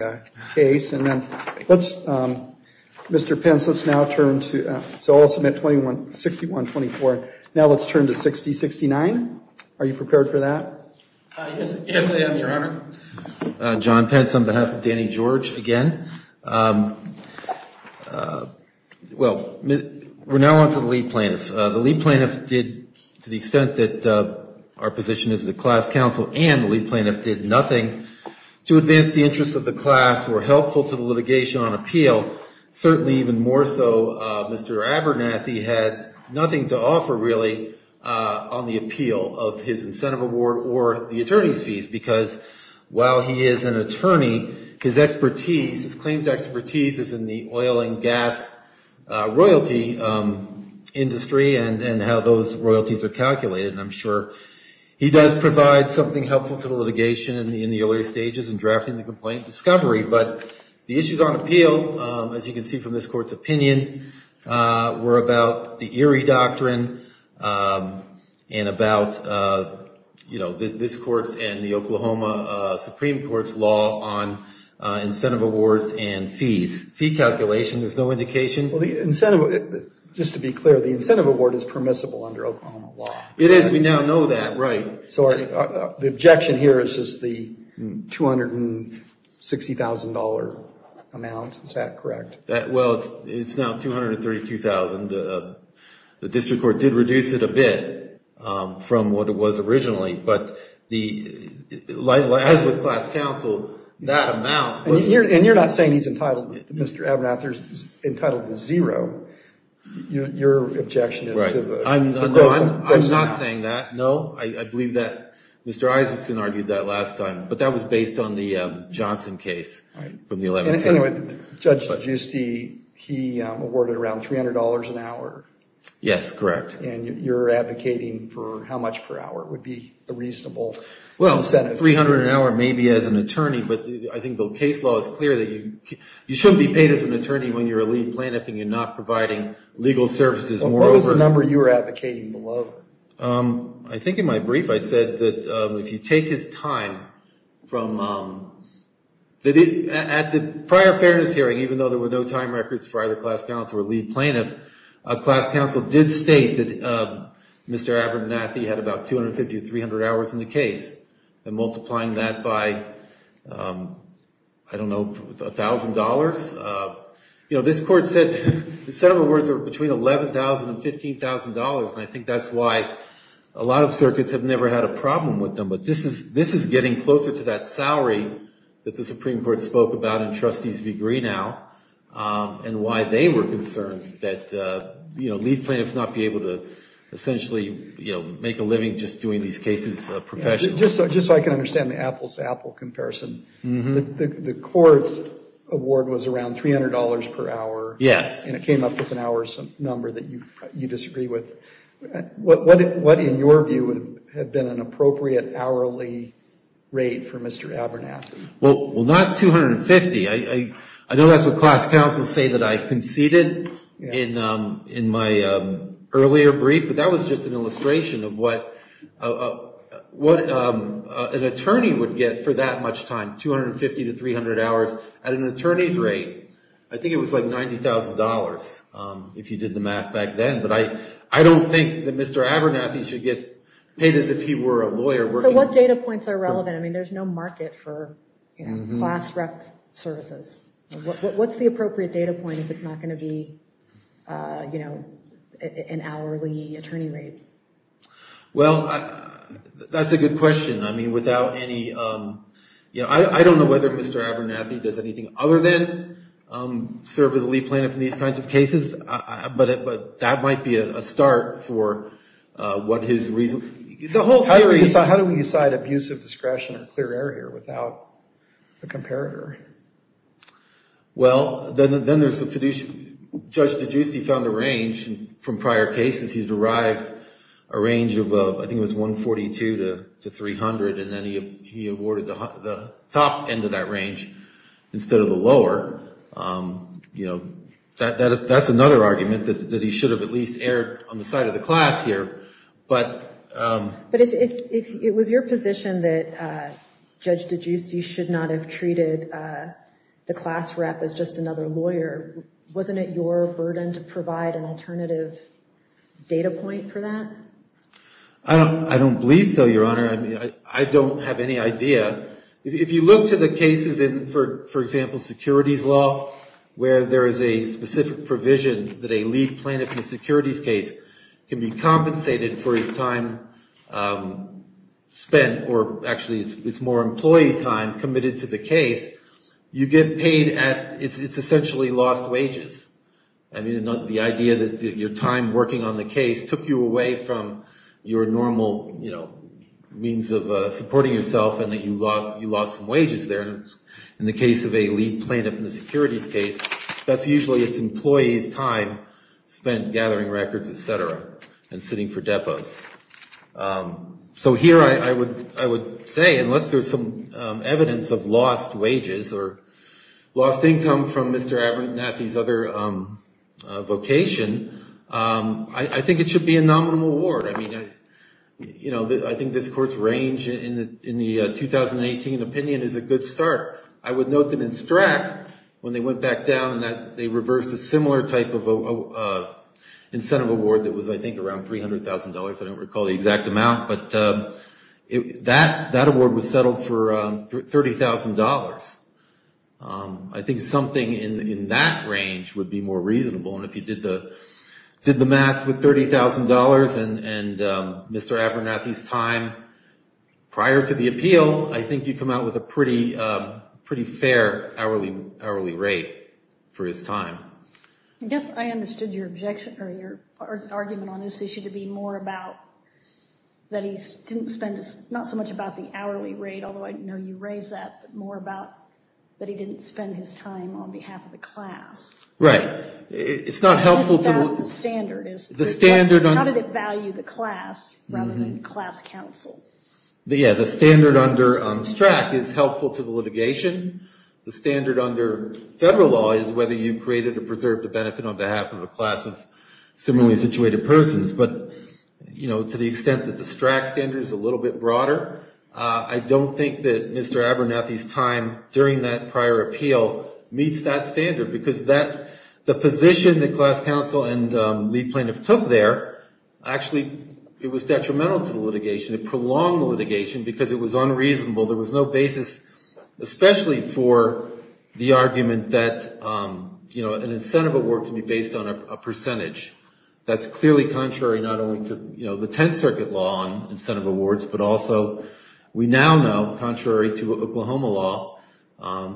And then let's, Mr. Pence, let's now turn to, so I'll submit 6124. Now let's turn to 6069. Are you prepared for that? Yes, I am, Your Honor. John Pence on behalf of Danny George again. Well, we're now on to the lead plaintiff. The lead plaintiff did, to the extent that our position is the class counsel and the lead plaintiff did nothing to advance the interests of the class or helpful to the litigation on appeal, certainly even more so, Mr. Abernathy had nothing to offer really on the appeal of his incentive award or the attorney's fees, because while he is an attorney, his expertise, his claims expertise is in the oil and gas royalty industry and how those royalties are calculated. And I'm sure he does provide something helpful to the litigation in the earlier stages and drafting the complaint discovery. But the issues on appeal, as you can see from this court's opinion, were about the Erie Doctrine and about, you know, this court's and the Oklahoma Supreme Court's law on incentive awards and fees. Fee calculation, there's no indication. Well, the incentive, just to be clear, the incentive award is permissible under Oklahoma law. It is. We now know that, right. So the objection here is just the $260,000 amount. Is that correct? Well, it's now $232,000. The district court did reduce it a bit from what it was originally. But as with class counsel, that amount. And you're not saying he's entitled, Mr. Abernathy, is entitled to zero. Your objection is to the. I'm not saying that. No, I believe that Mr. Isaacson argued that last time. But that was based on the Johnson case from the 11th. Anyway, Judge Giusti, he awarded around $300 an hour. Yes, correct. And you're advocating for how much per hour would be a reasonable incentive? Well, $300 an hour maybe as an attorney. But I think the case law is clear that you shouldn't be paid as an attorney when you're a lead plaintiff and you're not providing legal services. What was the number you were advocating below? I think in my brief I said that if you take his time from. At the prior fairness hearing, even though there were no time records for either class counsel or lead plaintiff, class counsel did state that Mr. Abernathy had about 250 to 300 hours in the case and multiplying that by, I don't know, $1,000. You know, this court said the set of awards are between $11,000 and $15,000. And I think that's why a lot of circuits have never had a problem with them. But this is getting closer to that salary that the Supreme Court spoke about in Trustees v. Greenow and why they were concerned that lead plaintiffs not be able to essentially make a living just doing these cases professionally. Just so I can understand the apples to apple comparison, the court's award was around $300 per hour. Yes. And it came up with an hour number that you disagree with. What, in your view, would have been an appropriate hourly rate for Mr. Abernathy? Well, not 250. I know that's what class counsel say that I conceded in my earlier brief. But that was just an illustration of what an attorney would get for that much time, 250 to 300 hours. At an attorney's rate, I think it was like $90,000, if you did the math back then. But I don't think that Mr. Abernathy should get paid as if he were a lawyer. So what data points are relevant? I mean, there's no market for class rep services. What's the appropriate data point if it's not going to be an hourly attorney rate? Well, that's a good question. I mean, without any, you know, I don't know whether Mr. Abernathy does anything other than serve as a lead plaintiff in these kinds of cases. But that might be a start for what his reason, the whole theory. So how do we decide abuse of discretion or clear error here without a comparator? Well, then there's the fiduciary, Judge DiGiusti found a range from prior cases. He derived a range of, I think it was 142 to 300, and then he awarded the top end of that range instead of the lower. You know, that's another argument that he should have at least erred on the side of the class here. But if it was your position that Judge DiGiusti should not have treated the class rep as just another lawyer, wasn't it your burden to provide an alternative data point for that? I don't believe so, Your Honor. I mean, I don't have any idea. If you look to the cases in, for example, securities law, where there is a specific provision that a lead plaintiff in a securities case can be compensated for his time spent, or actually it's more employee time committed to the case, you get paid at, it's essentially lost wages. I mean, the idea that your time working on the case took you away from your normal, you know, means of supporting yourself and that you lost some wages there. In the case of a lead plaintiff in a securities case, that's usually its employees' time spent gathering records, et cetera, and sitting for depots. So here I would say, unless there's some evidence of lost wages or lost income from Mr. Abernathy's other vocation, I think it should be a nominal award. I mean, you know, I think this Court's range in the 2018 opinion is a good start. I would note that in STRAC, when they went back down, they reversed a similar type of incentive award that was, I think, around $300,000. I don't recall the exact amount, but that award was settled for $30,000. I think something in that range would be more reasonable. And if you did the math with $30,000 and Mr. Abernathy's time prior to the appeal, I think you'd come out with a pretty fair hourly rate for his time. I guess I understood your objection, or your argument on this issue to be more about that he didn't spend, not so much about the hourly rate, although I know you raised that, but more about that he didn't spend his time on behalf of the class. Right. It's not helpful to the standard. How did it value the class, rather than class counsel? Yeah, the standard under STRAC is helpful to the litigation. The standard under federal law is whether you created or preserved a benefit on behalf of a class of similarly situated persons. But, you know, to the extent that the STRAC standard is a little bit broader, I don't think that Mr. Abernathy's time during that prior appeal meets that standard. Because the position that class counsel and lead plaintiff took there, actually, it was detrimental to the litigation. It prolonged the litigation because it was unreasonable. There was no basis, especially for the argument that an incentive award can be based on a percentage. That's clearly contrary not only to the Tenth Circuit law on incentive awards, but also, we now know, contrary to Oklahoma law,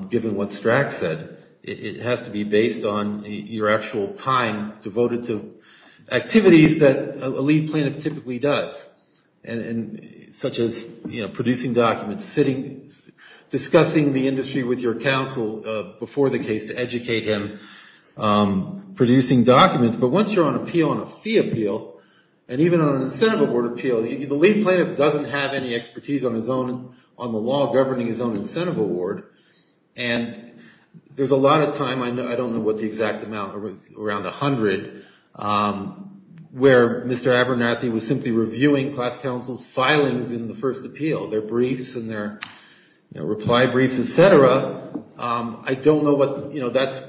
given what STRAC said, it has to be based on your actual time devoted to activities that a lead plaintiff typically does. And such as, you know, producing documents, sitting, discussing the industry with your counsel before the case to educate him, producing documents. But once you're on appeal, on a fee appeal, and even on an incentive award appeal, the lead plaintiff doesn't have any expertise on his own, on the law governing his own incentive award. And there's a lot of time, I don't know what the exact amount, around 100, where Mr. Abernathy was simply reviewing class counsel's filings in the first appeal. Their briefs and their reply briefs, et cetera. I don't know what, you know, that's,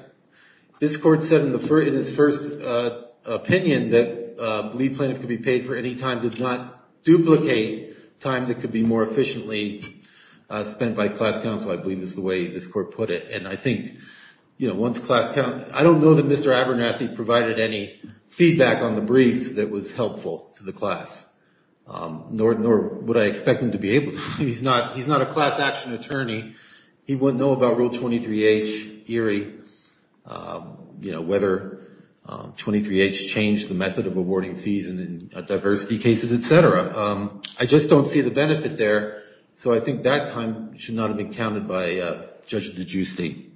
this court said in its first opinion that a lead plaintiff could be paid for any time, did not duplicate time that could be more efficiently spent by class counsel, I believe is the way this court put it. And I think, you know, once class counsel, I don't know that Mr. Abernathy provided any feedback on the briefs that was helpful to the class, nor would I expect him to be able to. He's not, he's not a class action attorney. He wouldn't know about Rule 23H, ERIE, you know, whether 23H changed the method of awarding fees in diversity cases, et cetera. I just don't see the benefit there. So I think that time should not have been counted by Judge DeGiusti.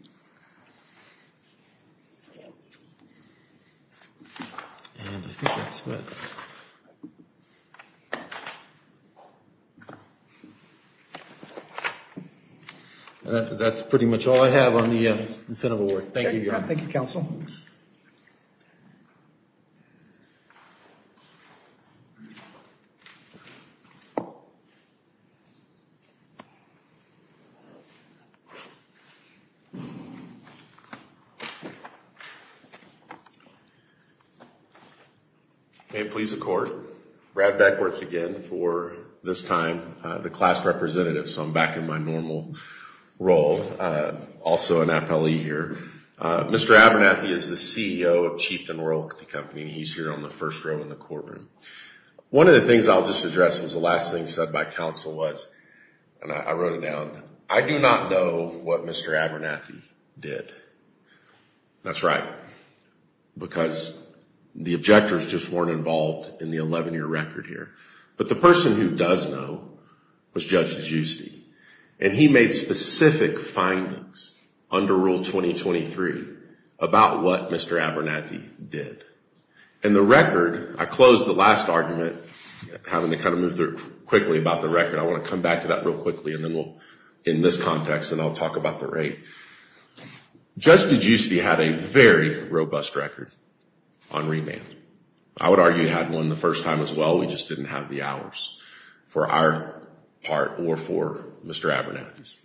That's pretty much all I have on the incentive award. Thank you, Your Honor. Thank you, counsel. May it please the court, Brad Beckwith again for this time, the class representative. So I'm back in my normal role, also an appellee here. Mr. Abernathy is the CEO of Cheapton Royal Company, and he's here on the first row in the courtroom. One of the things I'll just address was the last thing said by counsel was, and I wrote it down, I do not know what Mr. Abernathy did. That's right, because the objectors just weren't involved in the 11-year record here. But the person who does know was Judge DeGiusti, and he made specific findings under Rule 2023 about what Mr. Abernathy did. And the record, I closed the last argument, having to kind of move through quickly about the record. I want to come back to that real quickly, and then we'll, in this context, then I'll talk about the rate. Judge DeGiusti had a very robust record on remand. I would argue he had one the first time as well. We just didn't have the hours for our part or for Mr. Abernathy's.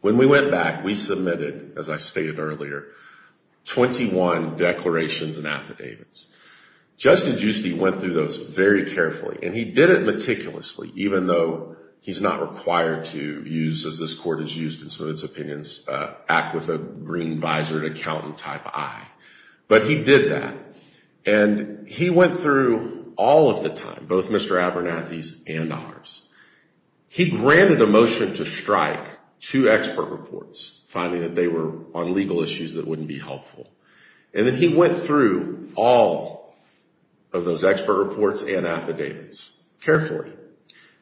When we went back, we submitted, as I stated earlier, 21 declarations and affidavits. Judge DeGiusti went through those very carefully, and he did it meticulously, even though he's not required to use, as this court has used in some of its opinions, act with a green visor and accountant-type eye. But he did that. And he went through all of the time, both Mr. Abernathy's and ours. He granted a motion to strike two expert reports, finding that they were on legal issues that wouldn't be helpful. And then he went through all of those expert reports and affidavits carefully.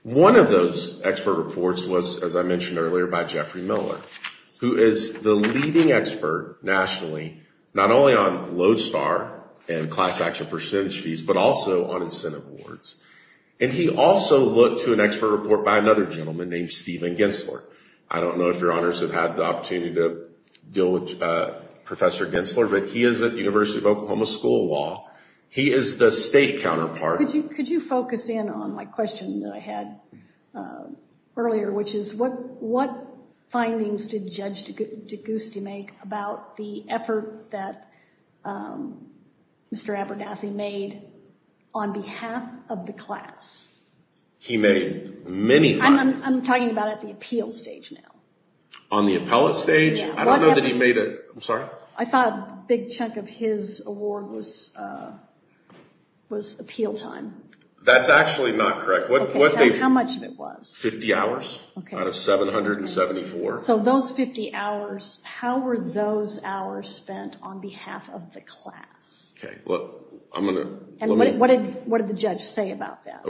One of those expert reports was, as I mentioned earlier, by Jeffrey Miller, who is the leading expert nationally, not only on Lodestar and class action percentage fees, but also on incentive awards. And he also looked to an expert report by another gentleman named Steven Gensler. I don't know if your honors have had the opportunity to deal with Professor Gensler, but he is at University of Oklahoma School of Law. He is the state counterpart. Could you focus in on my question that I had earlier, which is what findings did Judge D'Agosti make about the effort that Mr. Abernathy made on behalf of the class? He made many findings. I'm talking about at the appeal stage now. On the appellate stage? I don't know that he made a... I'm sorry? I thought a big chunk of his award was appeal time. That's actually not correct. How much of it was? 50 hours out of 774. So those 50 hours, how were those hours spent on behalf of the class? Okay, well, I'm going to... And what did the judge say about that?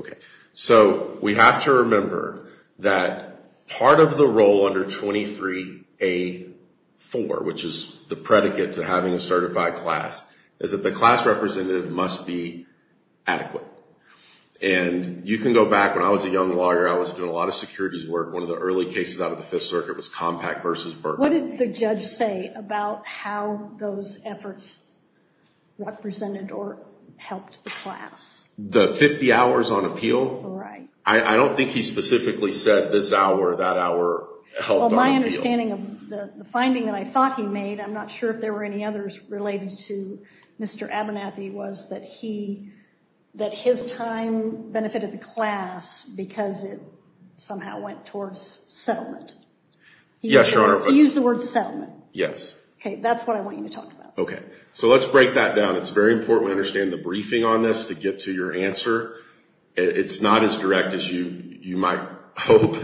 So we have to remember that part of the role under 23-A-4, which is the predicate to having a certified class, is that the class representative must be adequate. And you can go back, when I was a young lawyer, I was doing a lot of securities work. One of the early cases out of the Fifth Circuit was Compact v. Burke. What did the judge say about how those efforts represented or helped the class? The 50 hours on appeal? Right. I don't think he specifically said this hour, that hour helped on appeal. Well, my understanding of the finding that I thought he made, I'm not sure if there were any others related to Mr. Abernathy, was that his time benefited the class because it somehow went towards settlement. Yes, Your Honor. He used the word settlement. Yes. Okay, that's what I want you to talk about. Okay. So let's break that down. It's very important to understand the briefing on this to get to your answer. It's not as direct as you might hope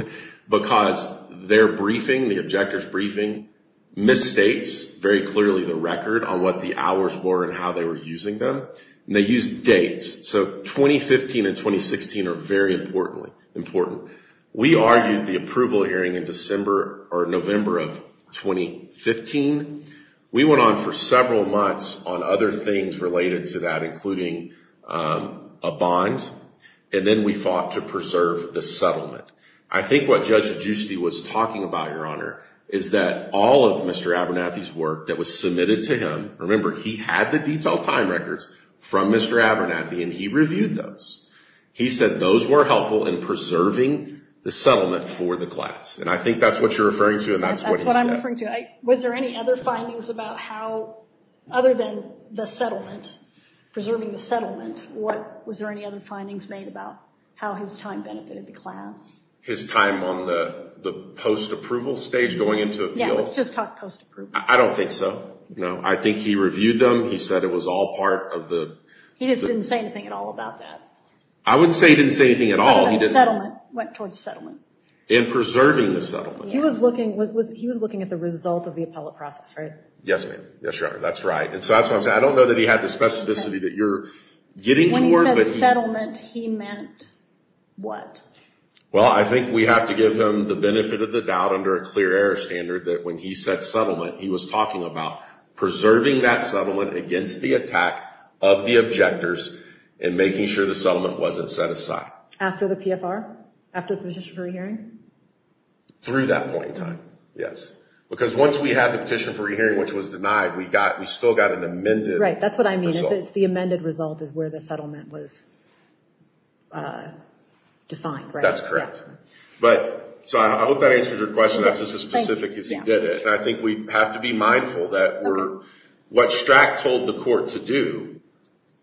because their briefing, the objector's briefing, misstates very clearly the record on what the hours were and how they were using them. And they use dates. So 2015 and 2016 are very important. We argued the approval hearing in November of 2015. We went on for several months on other things related to that, including a bond. And then we fought to preserve the settlement. I think what Judge Giusti was talking about, Your Honor, is that all of Mr. Abernathy's work that was submitted to him, remember he had the detailed time records from Mr. Abernathy and he reviewed those. He said those were helpful in preserving the settlement for the class. And I think that's what you're referring to and that's what he said. That's what I'm referring to. Was there any other findings about how, other than the settlement, preserving the settlement, what, was there any other findings made about how his time benefited the class? His time on the post-approval stage going into appeal? Yeah, let's just talk post-approval. I don't think so. No, I think he reviewed them. He said it was all part of the... He just didn't say anything at all about that. I wouldn't say he didn't say anything at all. I don't know, settlement, went towards settlement. In preserving the settlement. He was looking at the result of the appellate process, right? Yes, ma'am. Yes, your honor. That's right. And so that's what I'm saying. I don't know that he had the specificity that you're getting towards. When he said settlement, he meant what? Well, I think we have to give him the benefit of the doubt under a clear error standard that when he said settlement, he was talking about preserving that settlement against the attack of the objectors and making sure the settlement wasn't set aside. After the PFR? After the petition for a hearing? Through that point in time, yes. Because once we had the petition for a hearing, which was denied, we still got an amended... Right, that's what I mean. It's the amended result is where the settlement was defined, right? That's correct. So I hope that answers your question. That's just as specific as he did it. And I think we have to be mindful that what Strack told the court to do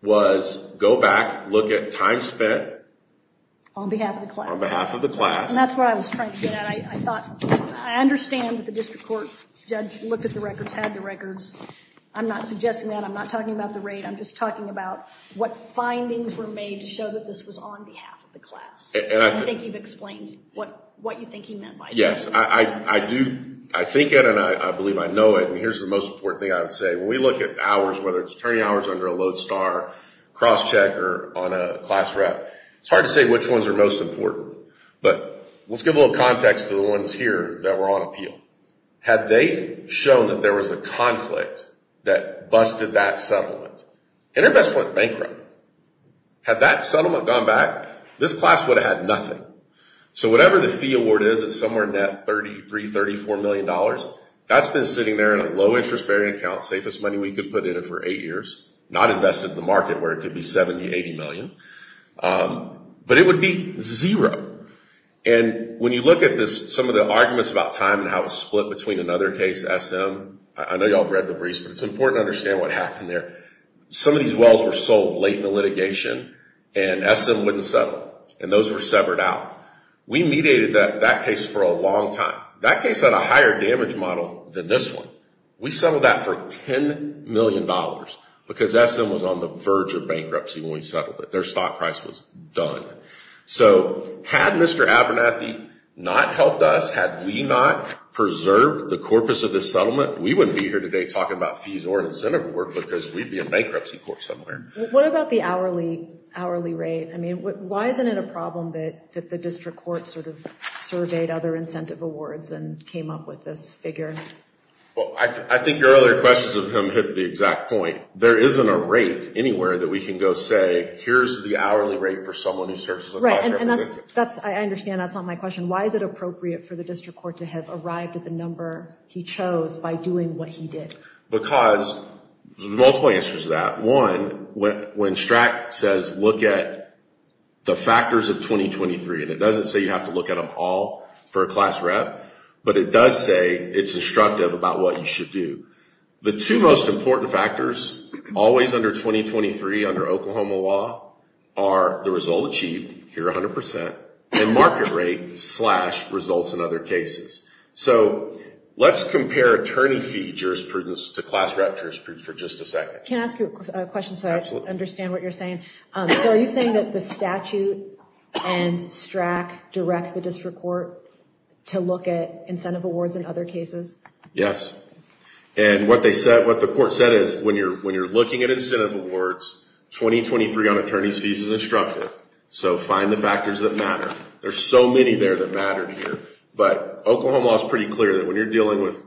was go back, look at time spent... On behalf of the class. On behalf of the class. And that's right. I thought... I understand that the district court judge looked at the records, had the records. I'm not suggesting that. I'm not talking about the rate. I'm just talking about what findings were made to show that this was on behalf of the class. And I think you've explained what you think he meant by that. Yes, I do. I think it and I believe I know it. And here's the most important thing I would say. When we look at hours, whether it's attorney hours under a load star, cross check, or on a class rep, it's hard to say which ones are most important. But let's give a little context to the ones here that were on appeal. Had they shown that there was a conflict that busted that settlement. InterVest went bankrupt. Had that settlement gone back, this class would have had nothing. So whatever the fee award is, it's somewhere in that $33, $34 million. That's been sitting there in a low interest bearing account, safest money we could put in it for eight years. Not invested in the market where it could be $70, $80 million. But it would be zero. And when you look at this, some of the arguments about time and how it split between another case, SM, I know y'all have read the briefs, but it's important to understand what happened there. Some of these wells were sold late in the litigation and SM wouldn't settle. And those were severed out. We mediated that case for a long time. That case had a higher damage model than this one. We settled that for $10 million because SM was on the verge of bankruptcy when we settled it. Their stock price was done. So had Mr. Abernathy not helped us, had we not preserved the corpus of this settlement, we wouldn't be here today talking about fees or incentive work because we'd be in bankruptcy court somewhere. What about the hourly rate? I mean, why isn't it a problem that the district court sort of surveyed other incentive awards and came up with this figure? Well, I think your earlier questions of him hit the exact point. There isn't a rate anywhere that we can go say, here's the hourly rate for someone who serves as a class rep. And that's, I understand that's not my question. Why is it appropriate for the district court to have arrived at the number he chose by doing what he did? Because there's multiple answers to that. One, when STRAC says, look at the factors of 2023, and it doesn't say you have to look at them all for a class rep, but it does say it's instructive about what you should do. The two most important factors, always under 2023 under Oklahoma law, are the result achieved, here 100%, and market rate slash results in other cases. So let's compare attorney fee jurisprudence to class rep jurisprudence for just a second. Can I ask you a question so I understand what you're saying? So are you saying that the statute and STRAC direct the district court to look at incentive awards in other cases? Yes, and what the court said is, when you're looking at incentive awards, 2023 on attorney's fees is instructive. So find the factors that matter. There's so many there that matter here. But Oklahoma law is pretty clear that when you're dealing with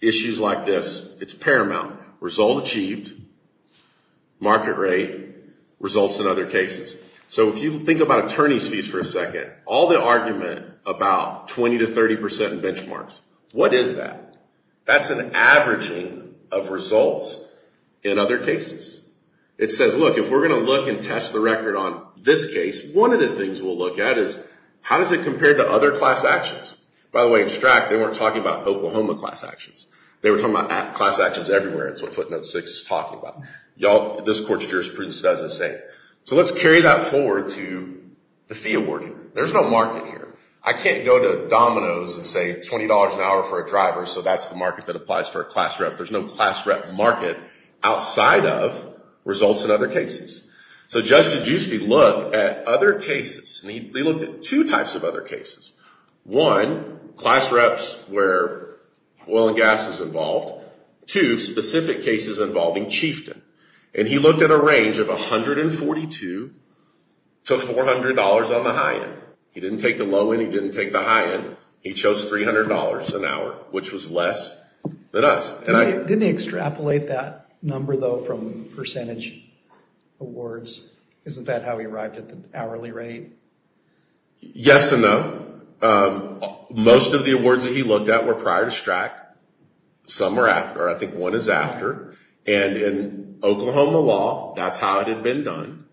issues like this, it's paramount. Result achieved, market rate, results in other cases. So if you think about attorney's fees for a second, all the argument about 20% to 30% benchmarks, what is that? That's an averaging of results in other cases. It says, look, if we're going to look and test the record on this case, one of the things we'll look at is, how does it compare to other class actions? By the way, in STRAC, they weren't talking about Oklahoma class actions. They were talking about class actions everywhere. That's what footnote six is talking about. This court's jurisprudence does the same. So let's carry that forward to the fee awarding. There's no market here. I can't go to Domino's and say $20 an hour for a driver, so that's the market that applies for a class rep. There's no class rep market outside of results in other cases. So Judge Giusti looked at other cases, and he looked at two types of other cases. One, class reps where oil and gas is involved. Two, specific cases involving chieftain. And he looked at a range of $142 to $400 on the high end. He didn't take the low end. He didn't take the high end. He chose $300 an hour, which was less than us. Didn't he extrapolate that number, though, from percentage awards? Isn't that how he arrived at the hourly rate? Yes and no. Most of the awards that he looked at were prior to STRAC. Some were after. I think one is after. And in Oklahoma law, that's how it had been done.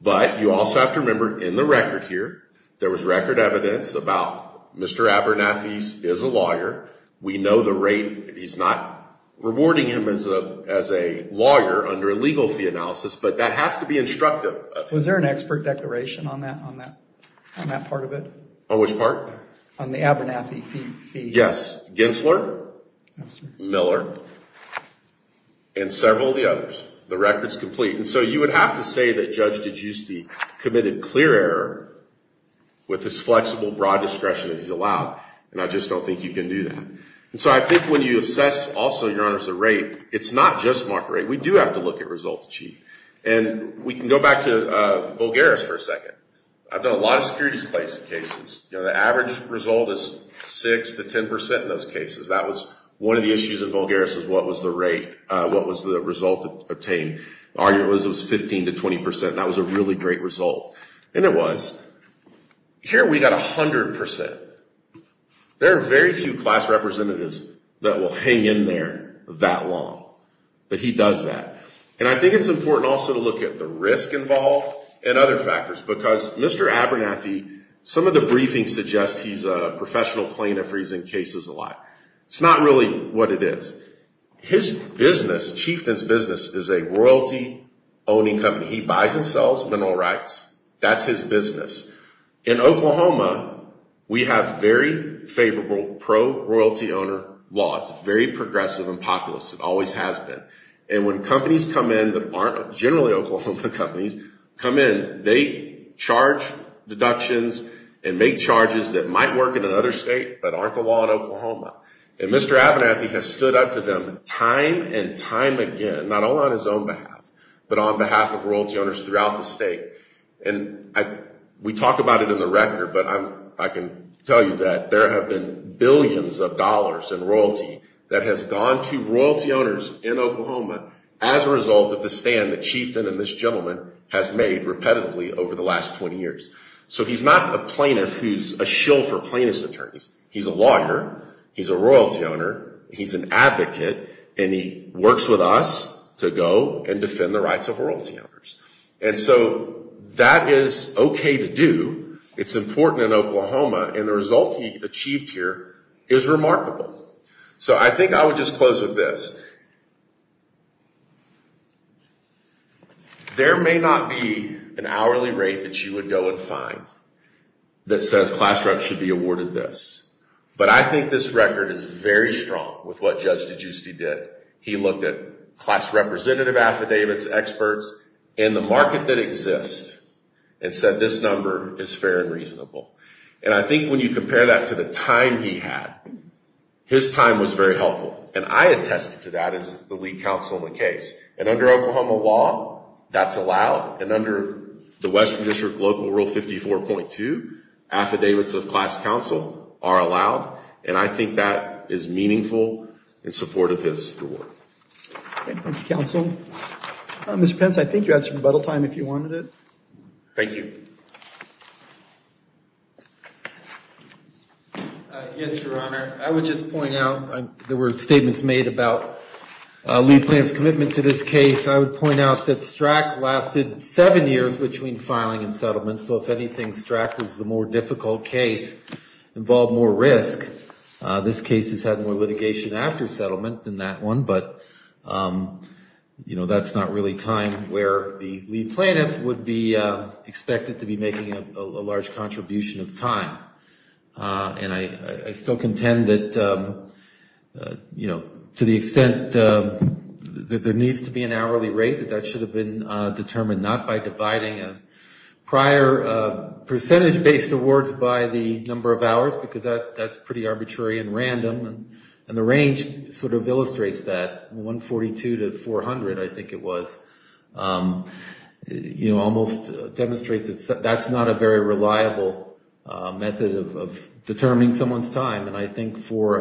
But you also have to remember in the record here, there was record evidence about Mr. Abernathy is a lawyer. We know the rate. He's not rewarding him as a lawyer under a legal fee analysis, but that has to be instructive. Was there an expert declaration on that part of it? On which part? On the Abernathy fee. Yes. Gensler, Miller, and several of the others. The record's complete. So you would have to say that Judge DiGiusti committed clear error with his flexible, broad discretion that he's allowed. And I just don't think you can do that. So I think when you assess also, Your Honors, the rate, it's not just market rate. We do have to look at results achieved. And we can go back to Volgara's for a second. I've done a lot of securities cases. The average result is 6% to 10% in those cases. That was one of the issues in Volgara's is what was the rate, what was the result obtained. Arguably, it was 15% to 20%. That was a really great result. And it was. Here, we got 100%. There are very few class representatives that will hang in there that long. But he does that. And I think it's important also to look at the risk involved and other factors. Because Mr. Abernathy, some of the briefings suggest he's a professional plaintiff if he's in cases a lot. It's not really what it is. His business, Chieftain's business, is a royalty-owning company. He buys and sells mineral rights. That's his business. In Oklahoma, we have very favorable pro-royalty owner laws. Very progressive and populist. It always has been. And when companies come in that aren't generally Oklahoma companies come in, they charge deductions and make charges that might work in another state but aren't the law in Oklahoma. And Mr. Abernathy has stood up to them time and time again. Not only on his own behalf, but on behalf of royalty owners throughout the state. And we talk about it in the record. But I can tell you that there have been billions of dollars in royalty that has gone to royalty owners in Oklahoma as a result of the stand that Chieftain and this gentleman has made repetitively over the last 20 years. So he's not a plaintiff who's a shill for plaintiff's attorneys. He's a lawyer. He's a royalty owner. He's an advocate. And he works with us to go and defend the rights of royalty owners. And so that is OK to do. It's important in Oklahoma. And the result he achieved here is remarkable. So I think I would just close with this. There may not be an hourly rate that you would go and find that says class rep should be awarded this. But I think this record is very strong with what Judge DiGiusti did. He looked at class representative affidavits, experts, and the market that exists and said this number is fair and reasonable. And I think when you compare that to the time he had, his time was very helpful. And I attested to that as the lead counsel in the case. And under Oklahoma law, that's allowed. And under the Western District Local Rule 54.2, affidavits of class counsel are allowed. And I think that is meaningful in support of his award. Thank you, counsel. Mr. Pence, I think you had some rebuttal time if you wanted it. Thank you. Yes, Your Honor. I would just point out there were statements made about Lee Plante's commitment to this case. I would point out that STRAC lasted seven years between filing and settlement. So if anything, STRAC was the more difficult case, involved more risk. This case has had more litigation after settlement than that one. But, you know, that's not really time where the lead plaintiff would be expected to be making a large contribution of time. And I still contend that, you know, to the extent that there needs to be an hourly rate, that that should have been determined not by dividing a prior percentage-based awards by the number of hours, because that's pretty arbitrary and random. And the range sort of illustrates that. 142 to 400, I think it was, you know, almost demonstrates that that's not a very reliable method of determining someone's time. And I think for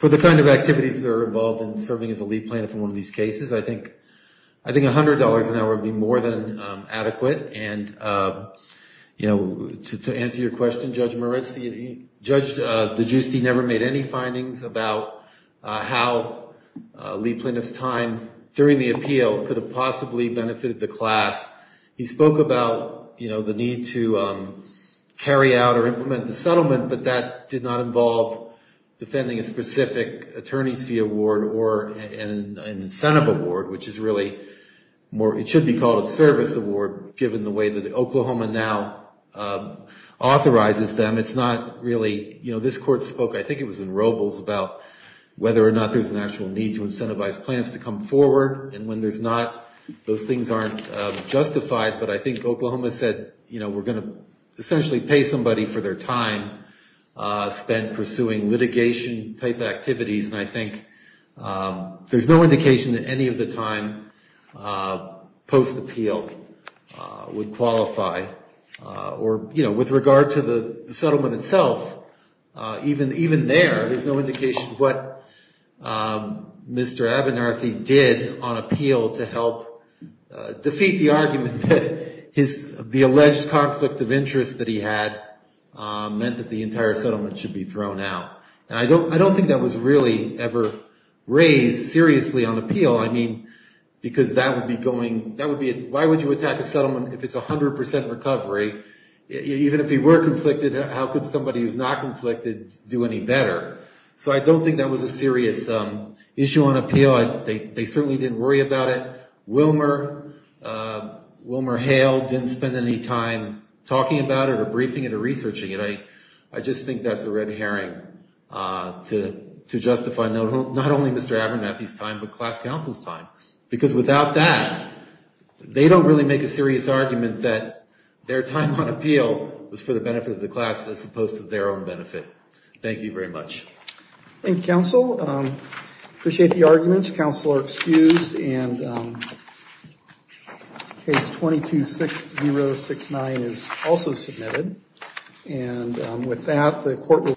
the kind of activities that are involved in serving as a lead plaintiff in one of these cases, I think $100 an hour would be more than adequate. And, you know, to answer your question, Judge Moritz, Judge DeGiusti never made any findings about how lead plaintiff's time during the appeal could have possibly benefited the class. He spoke about, you know, the need to carry out or implement the settlement, but that did not involve defending a specific attorney's fee award or an incentive award, which is really more, it should be called a service award, given the way that Oklahoma now authorizes them. It's not really, you know, this court spoke, I think it was in Robles, about whether or not there's an actual need to incentivize plaintiffs to come forward. And when there's not, those things aren't justified. But I think Oklahoma said, you know, we're going to essentially pay somebody for their time spent pursuing litigation-type activities. And I think there's no indication that any of the time post-appeal would qualify. Or, you know, with regard to the settlement itself, even there, there's no indication what Mr. Abernathy did on appeal to help defeat the argument that the alleged conflict of interest that he had meant that the entire settlement should be thrown out. And I don't think that was really ever raised seriously on appeal. I mean, because that would be going, that would be, why would you attack a settlement if it's 100% recovery? Even if he were conflicted, how could somebody who's not conflicted do any better? So I don't think that was a serious issue on appeal. They certainly didn't worry about it. Wilmer, Wilmer Hale didn't spend any time talking about it or briefing it or researching it. I just think that's a red herring to justify not only Mr. Abernathy's time, but class counsel's time. Because without that, they don't really make a serious argument that their time on appeal was for the benefit of the class as opposed to their own benefit. Thank you very much. Thank you, counsel. Appreciate the arguments. Counsel are excused. And case 22-6069 is also submitted. And with that, the court will.